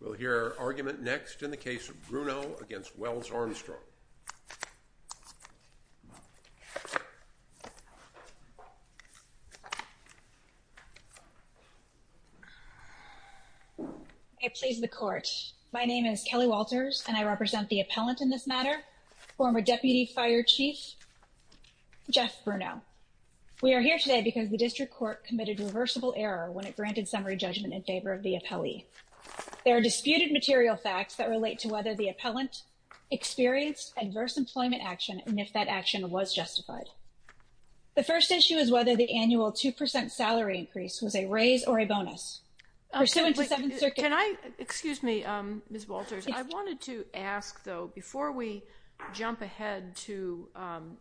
We'll hear argument next in the case of Bruno against Wells-Armstrong. I please the court. My name is Kelly Walters and I represent the appellant in this matter, former Deputy Fire Chief Jeff Bruno. We are here today because the district court committed reversible error when it granted summary judgment in There are disputed material facts that relate to whether the appellant experienced adverse employment action and if that action was justified. The first issue is whether the annual 2% salary increase was a raise or a bonus pursuant to Seventh Circuit. Can I excuse me, Ms. Walters, I wanted to ask, though, before we jump ahead to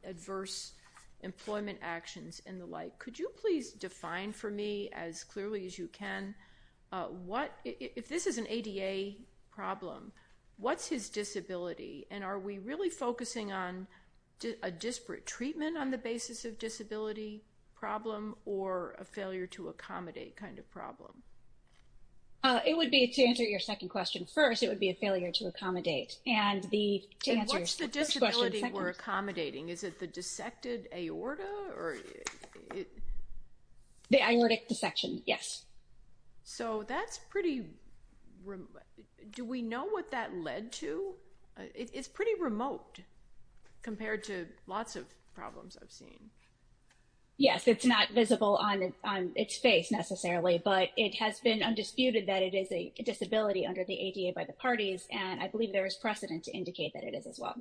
adverse employment actions and the like, could you please define for me as this is an ADA problem, what's his disability? And are we really focusing on a disparate treatment on the basis of disability problem or a failure to accommodate kind of problem? It would be, to answer your second question, first, it would be a failure to accommodate. And the, to answer your first question, second... And what's the disability we're accommodating? Is it the dissected aorta or... The aortic dissection, yes. So that's pretty... Do we know what that led to? It's pretty remote compared to lots of problems I've seen. Yes, it's not visible on its face necessarily, but it has been undisputed that it is a disability under the ADA by the parties. And I believe there is precedent to indicate that it is as well.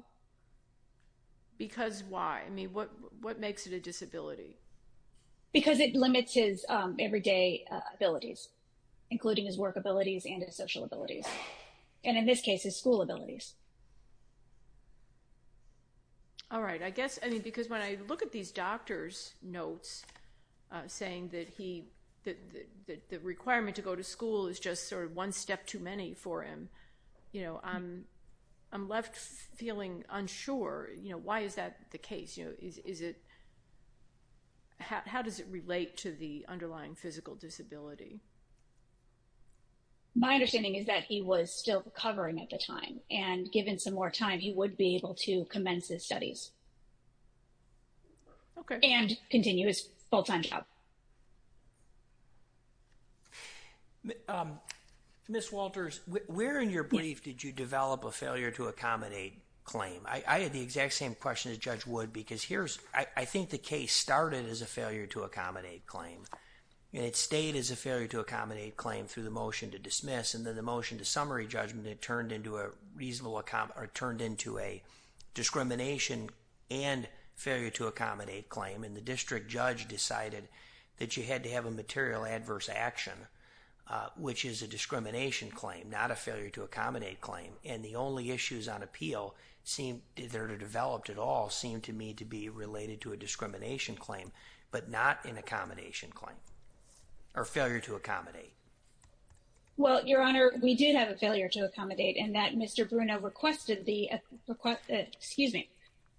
Because why? I mean, what makes it a disability? Because it limits his everyday abilities, including his work abilities and his social abilities. And in this case, his school abilities. All right. I guess, I mean, because when I look at these doctor's notes saying that he, that the requirement to go to school is just sort of one step too many for him, you know, I'm left feeling unsure. You know, why is that the case? You know, is it... How does it relate to the underlying physical disability? My understanding is that he was still recovering at the time, and given some more time, he would be able to commence his studies. Okay. And continue his full-time job. Ms. Walters, where in your brief did you develop a failure to accommodate claim? I had the exact same question as Judge Wood, because here's... I think the case started as a failure to accommodate claim, and it stayed as a failure to accommodate claim through the motion to dismiss. And then the motion to summary judgment, it turned into a reasonable... Or turned into a discrimination and failure to accommodate claim. And the district judge decided that you had to have a material adverse action, which is a discrimination claim, not a failure to accommodate claim. And the only issues on appeal that are developed at all seem to me to be related to a discrimination claim, but not an accommodation claim. Or failure to accommodate. Well, Your Honor, we did have a failure to accommodate in that Mr. Bruno requested the... Excuse me.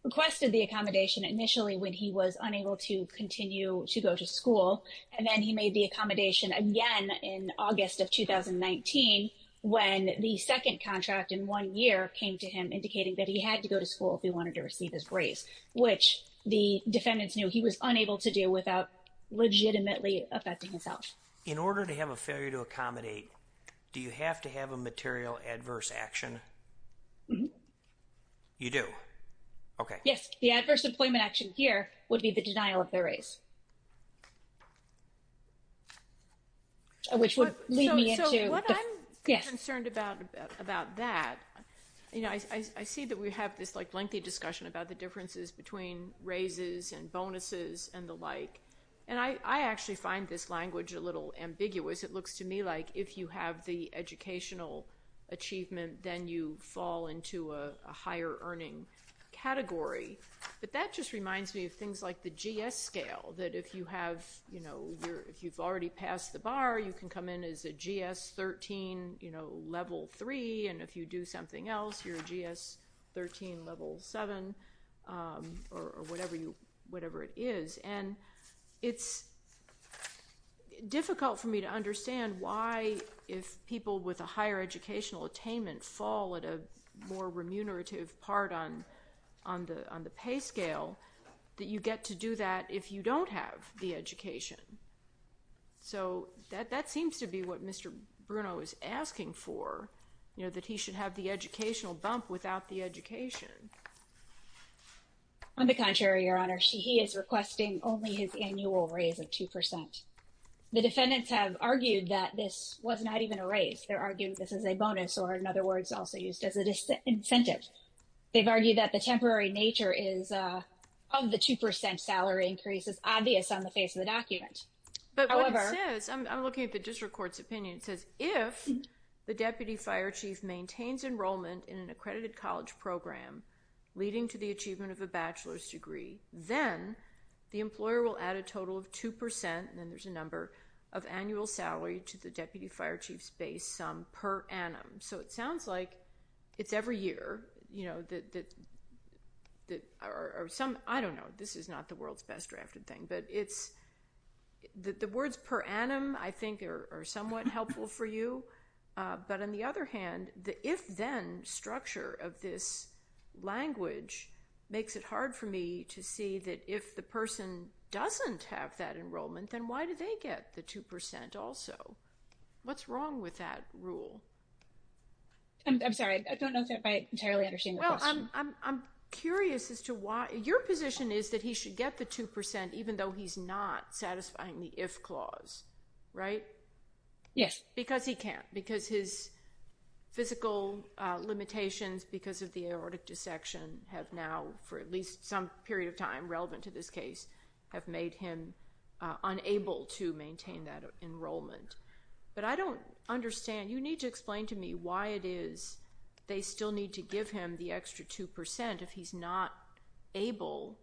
Requested the accommodation initially when he was unable to continue to go to school, and then he made the accommodation again in August of 2019, when the second contract in one year came to him indicating that he had to go to school if he wanted to receive his raise, which the defendants knew he was unable to do without legitimately affecting himself. In order to have a failure to accommodate, do you have to have a material adverse action? You do? Okay. Yes, the adverse employment action here would be the denial of their raise. Which would lead me into... So what I'm concerned about about that, I see that we have this lengthy discussion about the differences between raises and bonuses and the like. And I actually find this language a little ambiguous. It looks to me like if you have the educational achievement, then you fall into a higher earning category. But that just reminds me of things like the GS scale, that if you have... If you've already passed the bar, you can come in as a GS 13 level 3, and if you do something else, you're a GS 13 level 7, or whatever it is. And it's difficult for me to understand why, if people with a higher educational attainment fall at a more remunerative part on the pay scale, that you get to do that if you don't have the education. So that seems to be what Mr. Bruno is asking for, that he should have the educational bump without the education. On the contrary, Your Honor. He is requesting only his annual raise of 2%. The defendants have argued that this was not even a raise. They're arguing this is a bonus, or in other words, also used as an incentive. They've argued that the temporary nature is of the 2% salary increase is obvious on the face of the document. However... But what it says... I'm looking at the district court's opinion. It says, if the deputy fire chief maintains enrollment in an accredited college program leading to the achievement of a bachelor's degree, then the employer will add a total of 2%, and then there's a number of annual salary to the deputy fire chief's base sum per annum. So it sounds like it's every year that... Or some... I don't know. This is not the world's best drafted thing. But it's... The words per annum, I think, are somewhat helpful for you. But on the other hand, the if-then structure of this language makes it hard for me to see that if the person doesn't have that enrollment, then why do they get the 2% also? What's wrong with that rule? I'm sorry. I don't know if I entirely understand the question. Well, I'm curious as to why... Your position is that he should get the 2% even though he's not satisfying the if clause, right? Yes. Because he can't. Because his physical limitations because of the aortic dissection have now, for at least some period of time relevant to this case, have made him unable to maintain that enrollment. But I don't understand. You need to explain to me why it is they still need to give him the extra 2% if he's not able,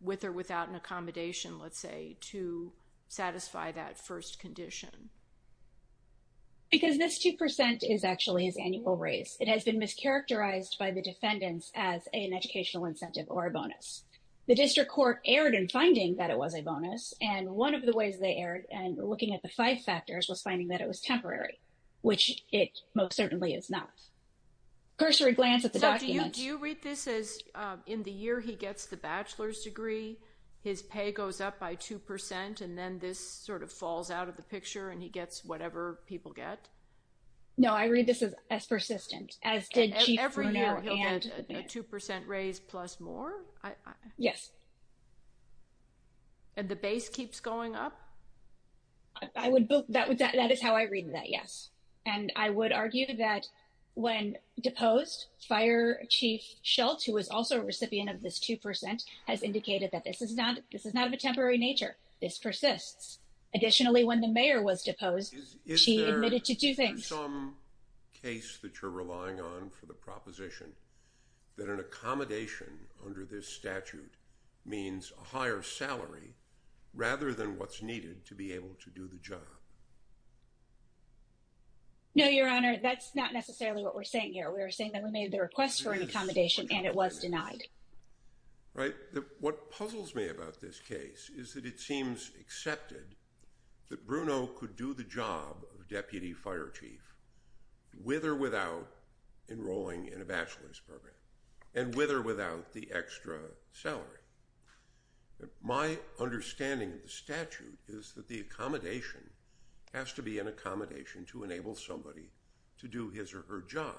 with or without an accommodation, let's say, to satisfy that first condition. Because this 2% is actually his annual raise. It has been mischaracterized by the defendants as an educational incentive or a bonus. The district court erred in finding that it was a bonus. And one of the ways they erred in looking at the five factors was finding that it was temporary, which it most certainly is not. Cursory glance at the document. Do you read this as in the year he gets the bachelor's degree, his pay goes up by 2% and then this sort of falls out of the picture and he gets whatever people get? No, I read this as persistent, as did Chief Brunner and... Every year he'll get a 2% raise plus more? Yes. And the base keeps going up? That is how I read that, yes. And I would argue that when deposed, Fire Chief Schultz, who was also a recipient of this 2%, has indicated that this is not of a temporary nature. This persists. Additionally, when the mayor was deposed, she admitted to two things. Is there some case that you're relying on for the proposition that an accommodation under this statute means a higher salary rather than what's needed to be able to do the job? No, Your Honor, that's not necessarily what we're saying here. We're saying that we made the request for an accommodation and it was denied. Right. What puzzles me about this case is that it seems accepted that Bruno could do the job of Deputy Fire Chief with or without enrolling in a bachelor's program and with or without the understanding of the statute is that the accommodation has to be an accommodation to enable somebody to do his or her job.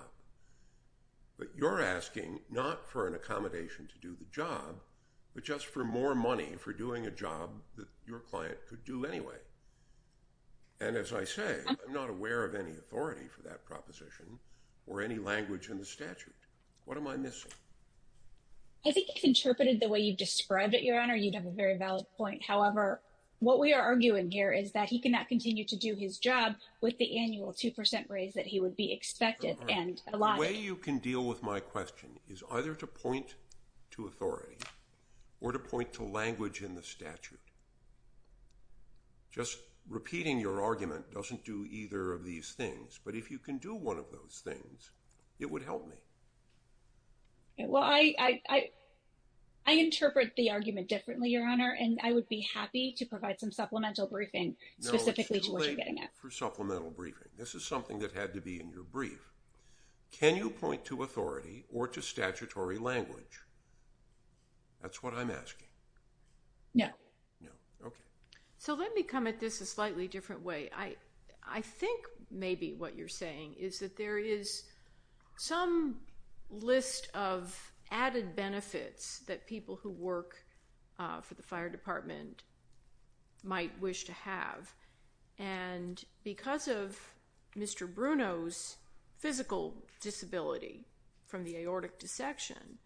But you're asking not for an accommodation to do the job, but just for more money for doing a job that your client could do anyway. And as I say, I'm not aware of any authority for that proposition or any language in the statute. What am I missing? I think if you interpreted the way you've described it, Your Honor, you'd have a very valid point. However, what we are arguing here is that he cannot continue to do his job with the annual 2% raise that he would be expected and allotted. The way you can deal with my question is either to point to authority or to point to language in the statute. Just repeating your argument doesn't do either of these things, but if you can do one of those things, it would help me. Well, I interpret the argument differently, Your Honor, and I would be happy to provide some supplemental briefing specifically to what you're getting at. No, it's too late for supplemental briefing. This is something that had to be in your brief. Can you point to authority or to statutory language? That's what I'm asking. No. No. Okay. So let me come at this a slightly different way. I think maybe what you're saying is that there is some list of added benefits that people who work for the fire department might wish to have, and because of Mr. Bruno's physical disability from the aortic dissection,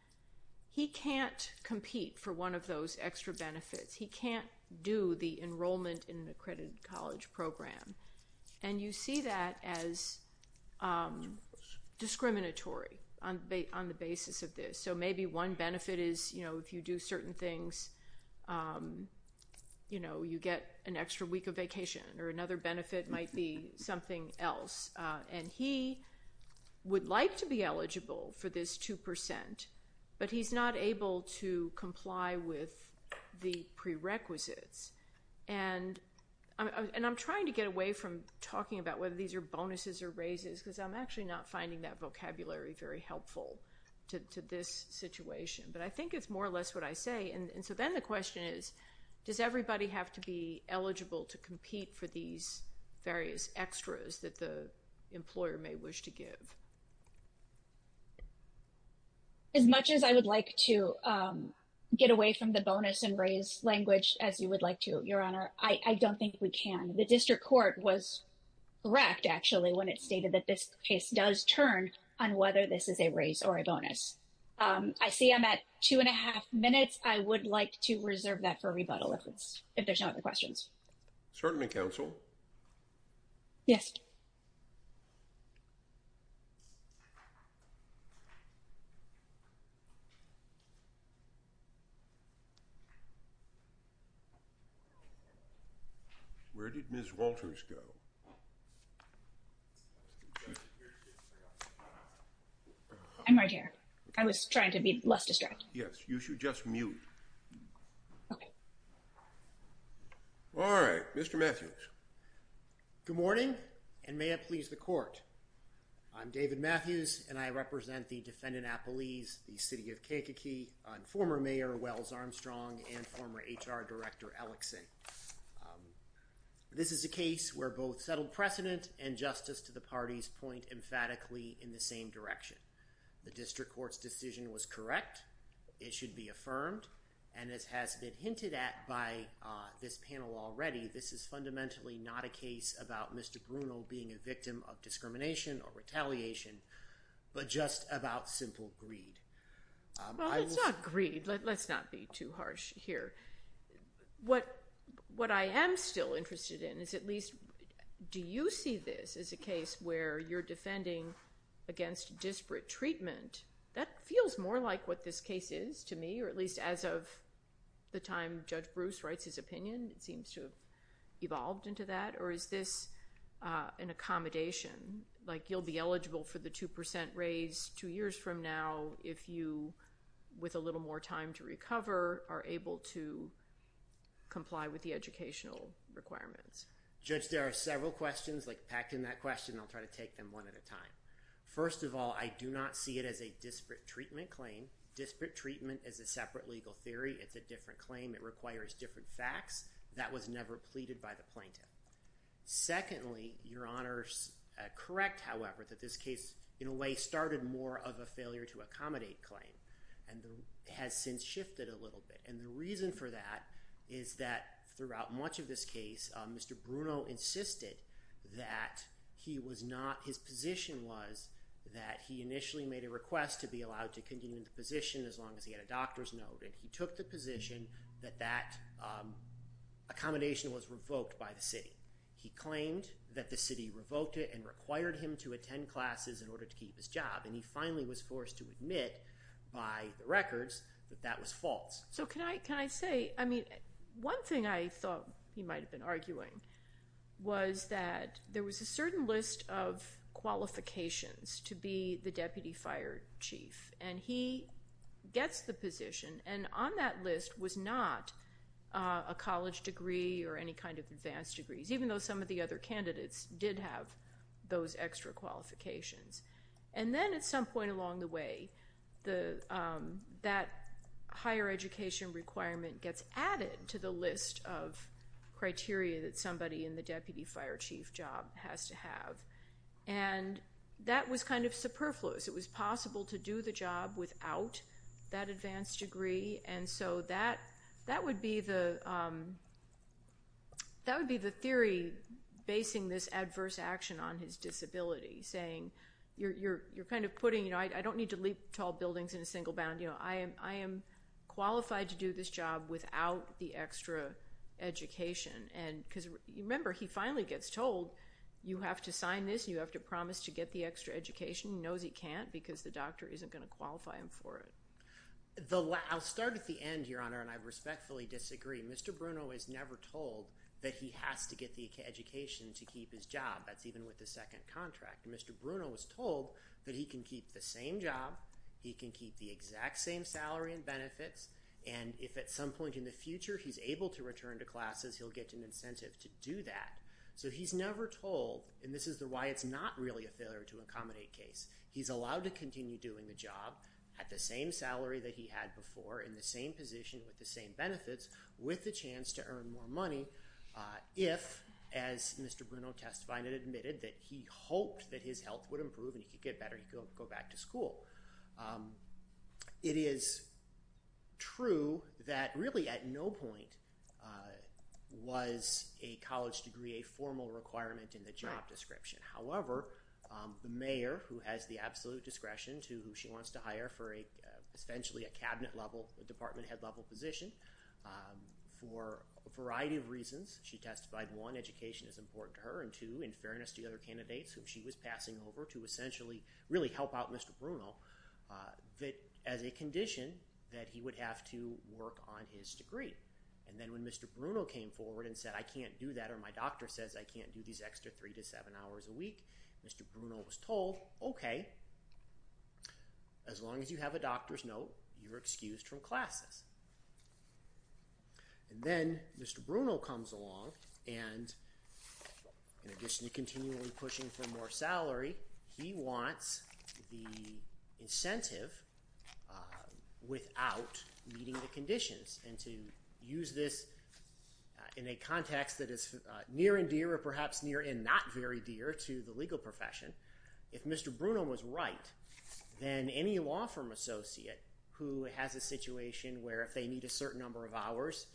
he can't compete for one of those extra benefits. He can't do the enrollment in discriminatory on the basis of this. So maybe one benefit is if you do certain things, you get an extra week of vacation, or another benefit might be something else. And he would like to be eligible for this 2%, but he's not able to comply with the prerequisites. And I'm trying to get away from talking about whether these are bonuses or raises, because I'm actually not finding that vocabulary very helpful to this situation. But I think it's more or less what I say. And so then the question is, does everybody have to be eligible to compete for these various extras that the employer may wish to give? As much as I would like to get away from the bonus and raise language, as you would like to, Your Honor, I don't think we can. The district court was correct, actually, when it stated that this case does turn on whether this is a raise or a bonus. I see I'm at two and a half minutes. I would like to reserve that for rebuttal if there's no other questions. Certainly, counsel. Yes. Where did Ms. Walters go? I'm right here. I was trying to be less distracted. Yes, you should just mute. All right, Mr. Matthews. Good morning, and may it please the court. I'm David Matthews, and I represent the defendant appellees, the city of Kankakee, and former Mayor Wells Armstrong and former HR Director Ellickson. This is a case where both settled precedent and justice to the parties point emphatically in the same direction. The district court's decision was correct. It should be affirmed, and as has been hinted at by this panel already, this is fundamentally not a case about Mr. Bruno being a victim of discrimination or retaliation, but just about simple greed. Well, it's not greed. Let's not be too harsh here. What I am still interested in is at least, do you see this as a case where you're defending against disparate treatment? That feels more like what this case is to me, or at least as of the time Judge Bruce writes his opinion, it seems to have evolved into that. Or is this an accommodation, like you'll be eligible for the 2 percent raise two years from now if you, with a little more time to recover, are able to comply with the educational requirements? Judge, there are several questions, like packed in that question. I'll try to take them one at a time. First of all, I do not see it as a disparate treatment claim. Disparate treatment is a separate legal theory. It's a different claim. It requires different facts. That was never pleaded by the plaintiff. Secondly, Your Honor's correct, however, that this case, in a way, started more of a failure to accommodate claim and has since shifted a little bit. The reason for that is that throughout much of this case, Mr. Bruno insisted that his position was that he initially made a request to be allowed to continue in the position as long as he had a doctor's note. He took the position that that accommodation was revoked by the city. He claimed that the city revoked it and required him to attend classes in order to keep his job, and he finally was forced to admit by the records that that was false. So can I say, I mean, one thing I thought he might have been arguing was that there was a certain list of qualifications to be the deputy fire chief, and he gets the position, and on that list was not a college degree or any kind of advanced degrees, even though some of the other candidates did have those extra qualifications. And then at some point along the way, that higher education requirement gets added to the list of criteria that somebody in the deputy fire chief job has to have, and that was kind of superfluous. It was possible to do the job without that advanced degree, and so that would be the theory basing this adverse action on his disability, saying, you're kind of putting, you know, I don't need to leap tall buildings in a single bound, you know, I am qualified to do this job without the extra education. And because remember, he finally gets told you have to sign this, you have to promise to get the extra education. He knows he can't because the doctor isn't going to qualify him for it. I'll start at the end, Your Honor, and I respectfully disagree. Mr. Bruno is never told that he has to get the education to keep his job. That's even with the second contract. Mr. Bruno was told that he can keep the same job, he can keep the exact same salary and benefits, and if at some point in the future he's able to return to classes, he'll get an incentive to do that. So he's never told, and this is why it's not really a failure to accommodate case. He's allowed to continue doing the job at the same salary that he had before, in the same position, with the same benefits, with the chance to earn more money if, as Mr. Bruno testified and admitted, that he hoped that his health would improve and he could get better, he could go back to school. It is true that really at no point was a college degree a formal requirement in the job description. However, the mayor, who has the absolute discretion to who she wants to hire for essentially a cabinet level, department head level position, for a variety of reasons, she testified, one, education is important to her, and two, in fairness to the other candidates whom she was passing over to essentially really help out Mr. Bruno, that as a condition that he would have to work on his degree. And then when Mr. Bruno came forward and said, I can't do that, my doctor says I can't do these extra three to seven hours a week, Mr. Bruno was told, okay, as long as you have a doctor's note, you're excused from classes. And then Mr. Bruno comes along and in addition to continually pushing for more salary, he wants the incentive without meeting the conditions. And to use this in a context that is near and dear or perhaps near and not very dear to the legal profession, if Mr. Bruno was right, then any law firm associate who has a situation where if they need a certain number of hours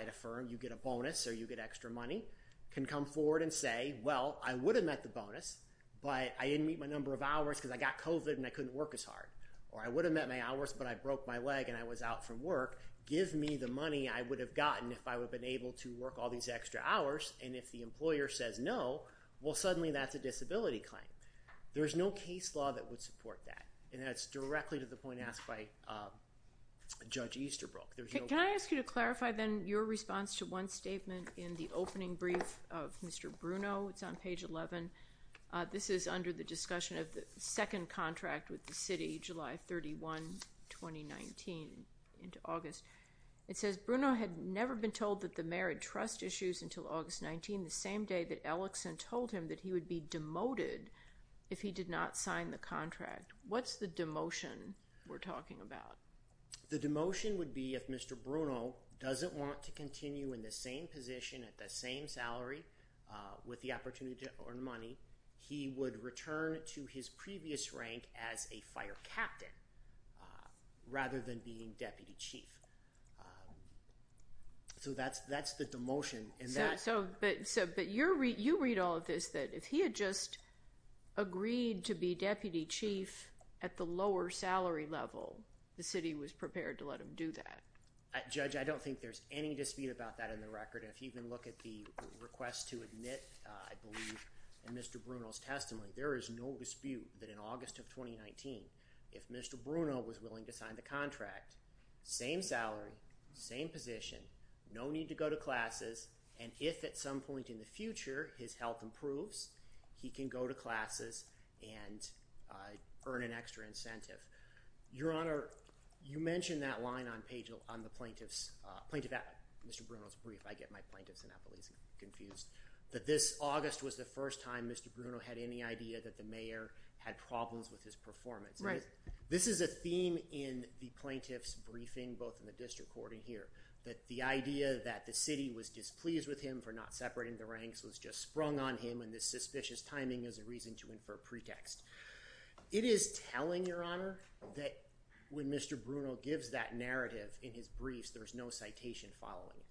at a firm, you get a bonus or you get extra money, can come forward and say, well, I would have met the bonus, but I didn't meet my number of hours because I got COVID and I couldn't work as hard. Or I would have met my hours, but I broke my leg and I was out from work, give me the money I would have gotten if I would have been able to work all these extra hours. And if the employer says no, well, suddenly that's a disability claim. There is no case law that would support that. And that's directly to the point asked by Judge Easterbrook. Can I ask you to clarify then your response to one statement in the opening brief of Mr. Bruno? It's on page 11. This is under the discussion of the second contract with the city, July 31, 2019 into August. It says Bruno had never been told that the mayor had trust issues until August 19, the same day that Ellickson told him that he would be demoted if he did not sign the contract. What's the demotion we're talking about? The demotion would be if Mr. Bruno doesn't want to continue in the same position at the same salary with the opportunity to earn money, he would return to his previous rank as a fire captain rather than being deputy chief. So that's the demotion. But you read all of this that if he had just agreed to be deputy chief at the lower salary level, the city was prepared to let him do that. Judge, I don't think there's any dispute about that in the record. If you even look at the request to admit, I believe, in Mr. Bruno's testimony, there is no dispute that in August of 2019, if Mr. Bruno was willing to sign the contract, same salary, same position, no need to go to classes, and if at some point in the future his health improves, he can go to classes and earn an extra incentive. Your Honor, you mentioned that line on page, on the plaintiff's, Mr. Bruno's brief, I get my plaintiffs and appellees confused, that this August was the first time Mr. Bruno had any idea that the mayor had problems with his performance. This is a theme in the plaintiff's briefing, both in the district court and here, that the idea that the city was displeased with him for not separating the ranks was just sprung on him and this suspicious timing is a reason to infer pretext. It is telling, Your Honor, that when Mr. Bruno gives that narrative in his briefs, there's no citation following it.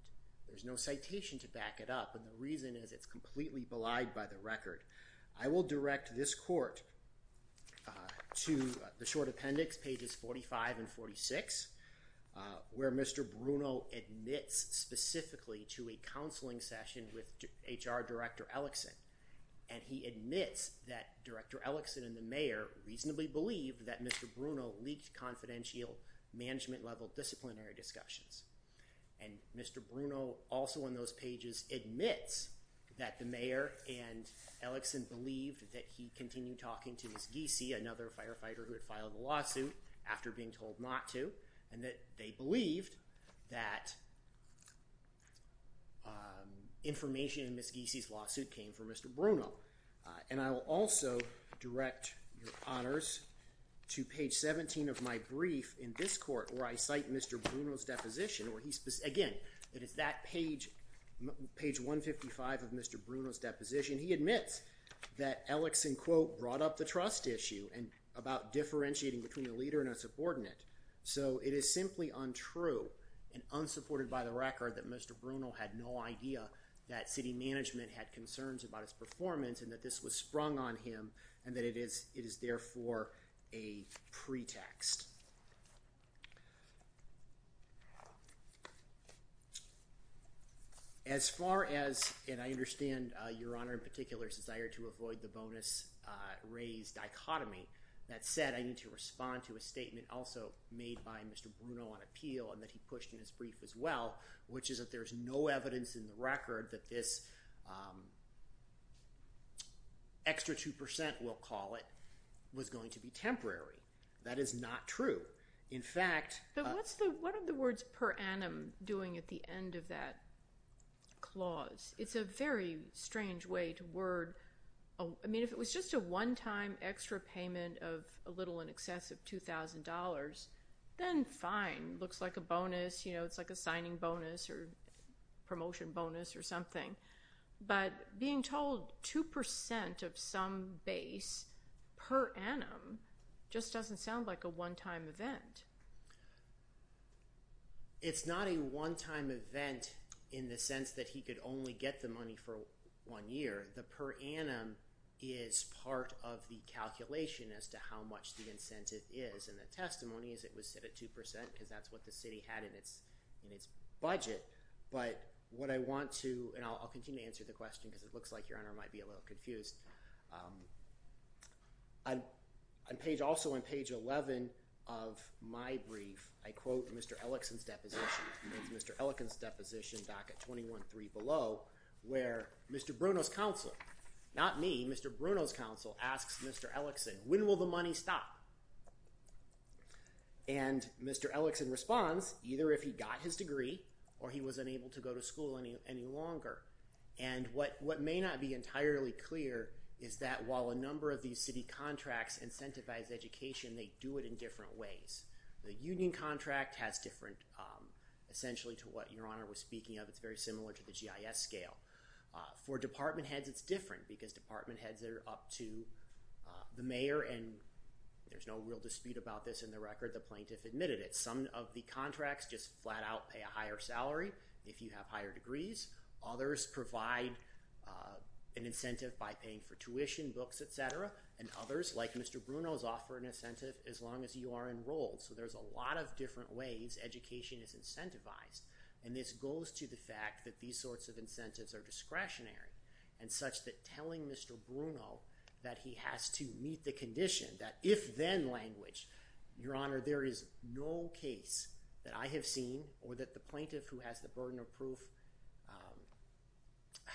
There's no citation to back it up and the reason is it's completely belied by the record. I will direct this court to the short appendix, pages 45 and 46, where Mr. Bruno admits specifically to a counseling session with HR Director Ellickson and he admits that Director Bruno leaked confidential management level disciplinary discussions and Mr. Bruno also on those pages admits that the mayor and Ellickson believed that he continued talking to Ms. Giese, another firefighter who had filed a lawsuit after being told not to, and that they believed that information in Ms. Giese's lawsuit came from Mr. Bruno and I will also direct, Your Honors, to page 17 of my brief in this court where I cite Mr. Bruno's deposition where he's, again, it is that page, page 155 of Mr. Bruno's deposition. He admits that Ellickson, quote, brought up the trust issue and about differentiating between a leader and a subordinate so it is simply untrue and unsupported by the record that Mr. Bruno had no idea that city management had concerns about his performance and that this was sprung on him and that it is therefore a pretext. As far as, and I understand, Your Honor, in particular's desire to avoid the bonus raised dichotomy, that said, I need to respond to a statement also made by Mr. Bruno on appeal and that he pushed in his brief as well, which is that there's no evidence in the record that this extra 2%, we'll call it, was going to be temporary. That is not true. In fact— But what's the, what are the words per annum doing at the end of that clause? It's a very strange way to word, I mean, if it was just a one-time extra payment of a little in excess of $2,000, then fine, looks like a bonus, you know, it's like a signing bonus or being told 2% of some base per annum just doesn't sound like a one-time event. It's not a one-time event in the sense that he could only get the money for one year. The per annum is part of the calculation as to how much the incentive is and the testimony is it was set at 2% because that's what the city had in its budget, but what I want to, and I'll continue to answer the question because it looks like your honor might be a little confused. On page, also on page 11 of my brief, I quote Mr. Ellickson's deposition. It's Mr. Ellickson's deposition back at 21-3 below where Mr. Bruno's counsel, not me, Mr. Bruno's counsel asks Mr. Ellickson, when will the money stop? And Mr. Ellickson responds, either if he got his degree or he was unable to go to school any longer. And what may not be entirely clear is that while a number of these city contracts incentivize education, they do it in different ways. The union contract has different, essentially to what your honor was speaking of, it's very similar to the GIS scale. For department heads, it's different because department heads are up to the mayor and there's no real dispute about this in the record, the plaintiff admitted it. Some of the contracts just flat out pay a higher salary if you have higher degrees. Others provide an incentive by paying for tuition, books, et cetera. And others like Mr. Bruno's offer an incentive as long as you are enrolled. So there's a lot of different ways education is incentivized. And this goes to the fact that these sorts of incentives are discretionary and such that telling Mr. Bruno that he has to meet the condition that if then language, your honor, there is no case that I have seen or that the plaintiff who has the burden of proof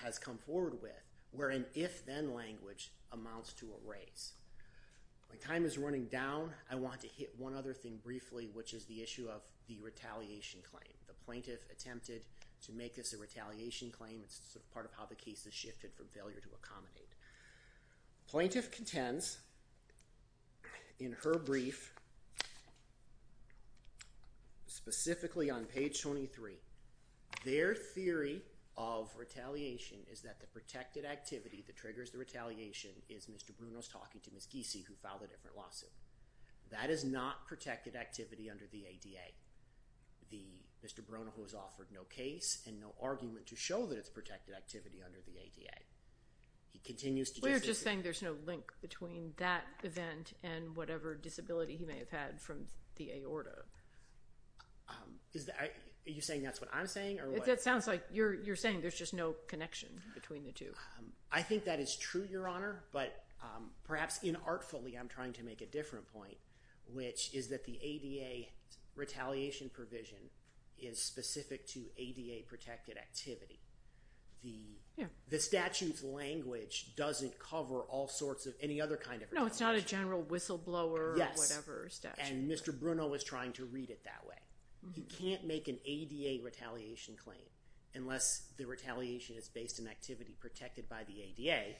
has come forward with where an if then language amounts to a raise. My time is running down. I want to hit one other thing briefly, which is the issue of the retaliation claim. The plaintiff attempted to make this a retaliation claim. It's sort of part of how the case has shifted from the plaintiff. Specifically on page 23, their theory of retaliation is that the protected activity that triggers the retaliation is Mr. Bruno's talking to Ms. Giese who filed a different lawsuit. That is not protected activity under the ADA. The Mr. Bruno who has offered no case and no argument to show that it's protected activity under the ADA. He continues to- There's no link between that event and whatever disability he may have had from the aorta. You're saying that's what I'm saying? You're saying there's just no connection between the two? I think that is true, your honor, but perhaps inartfully I'm trying to make a different point, which is that the ADA retaliation provision is specific to ADA protected activity. The statute's language doesn't cover all sorts of any other kind of- No, it's not a general whistleblower or whatever statute. And Mr. Bruno was trying to read it that way. He can't make an ADA retaliation claim unless the retaliation is based in activity protected by the ADA.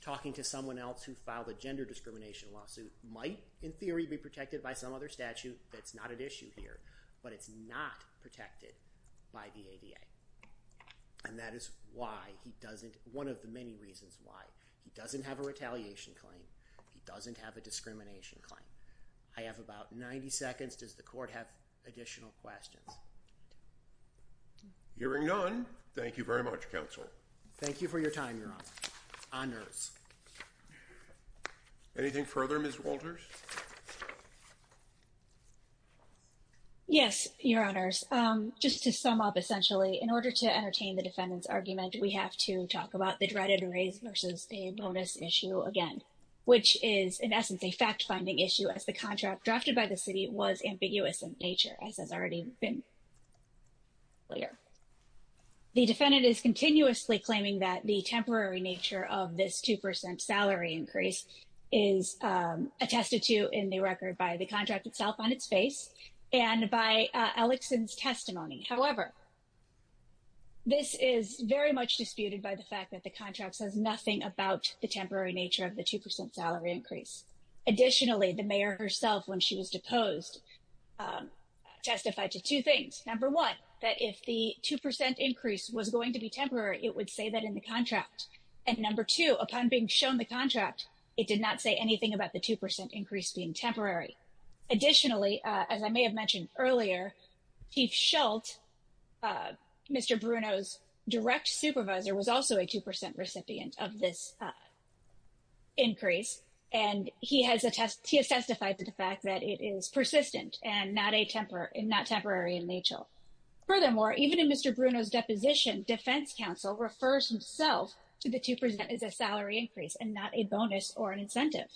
Talking to someone else who filed a gender discrimination lawsuit might, in theory, be protected by some other statute. That's not issue here, but it's not protected by the ADA. And that is why he doesn't- one of the many reasons why he doesn't have a retaliation claim. He doesn't have a discrimination claim. I have about 90 seconds. Does the court have additional questions? Hearing none, thank you very much, counsel. Thank you for your time, your honor. Anything further, Ms. Walters? Yes, your honors. Just to sum up, essentially, in order to entertain the defendant's argument, we have to talk about the dreaded race versus a bonus issue again, which is, in essence, a fact-finding issue as the contract drafted by the city was ambiguous in nature, as has already been clear. The defendant is continuously claiming that the temporary nature of this two percent salary increase is attested to in the record by the contract itself on its face and by Ellickson's testimony. However, this is very much disputed by the fact that the contract says nothing about the temporary nature of the two percent salary increase. Additionally, the mayor herself, when she was deposed, testified to two things. Number one, that if the two percent increase was going to be temporary, it would say that in the contract. And number two, upon being shown the contract, it did not say anything about the two percent increase being temporary. Additionally, as I may have mentioned earlier, Chief Schult, Mr. Bruno's direct supervisor, was also a two percent recipient of this increase, and he has testified to the fact that it is persistent and not temporary in nature. Furthermore, even in Mr. Bruno's deposition, defense counsel refers himself to the two percent as a salary increase and not a bonus or an incentive.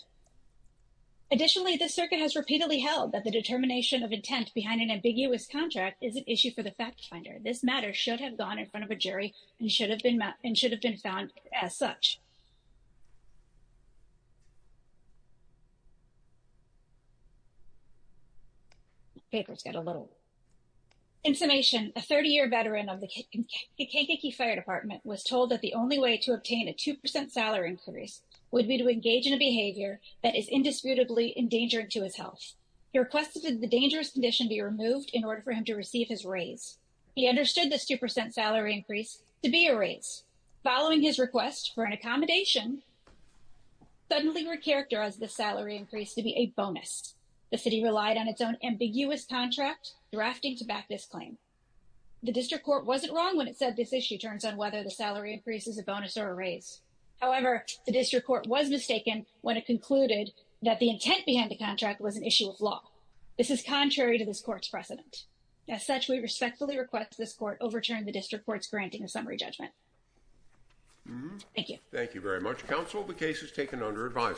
Additionally, the circuit has repeatedly held that the determination of intent behind an ambiguous contract is an issue for the fact finder. This matter should have gone in front of a jury and should have been found as such. Let's get a little. In summation, a 30-year veteran of the Kankakee Fire Department was told that the only way to obtain a two percent salary increase would be to engage in a behavior that is indisputably endangering to his health. He requested that the dangerous condition be removed in order for him to receive his raise. He understood this two percent salary increase to be a raise. Following his request for an accommodation, he suddenly recharacterized the salary increase to be a bonus. The city relied on its own ambiguous contract, drafting to back this claim. The district court wasn't wrong when it said this issue turns on whether the salary increase is a bonus or a raise. However, the district court was mistaken when it concluded that the intent behind the contract was an issue of law. This is contrary to this court's precedent. As such, we respectfully request this court overturn the district court's summary judgment. Thank you. Thank you very much, counsel. The case is taken under advisement.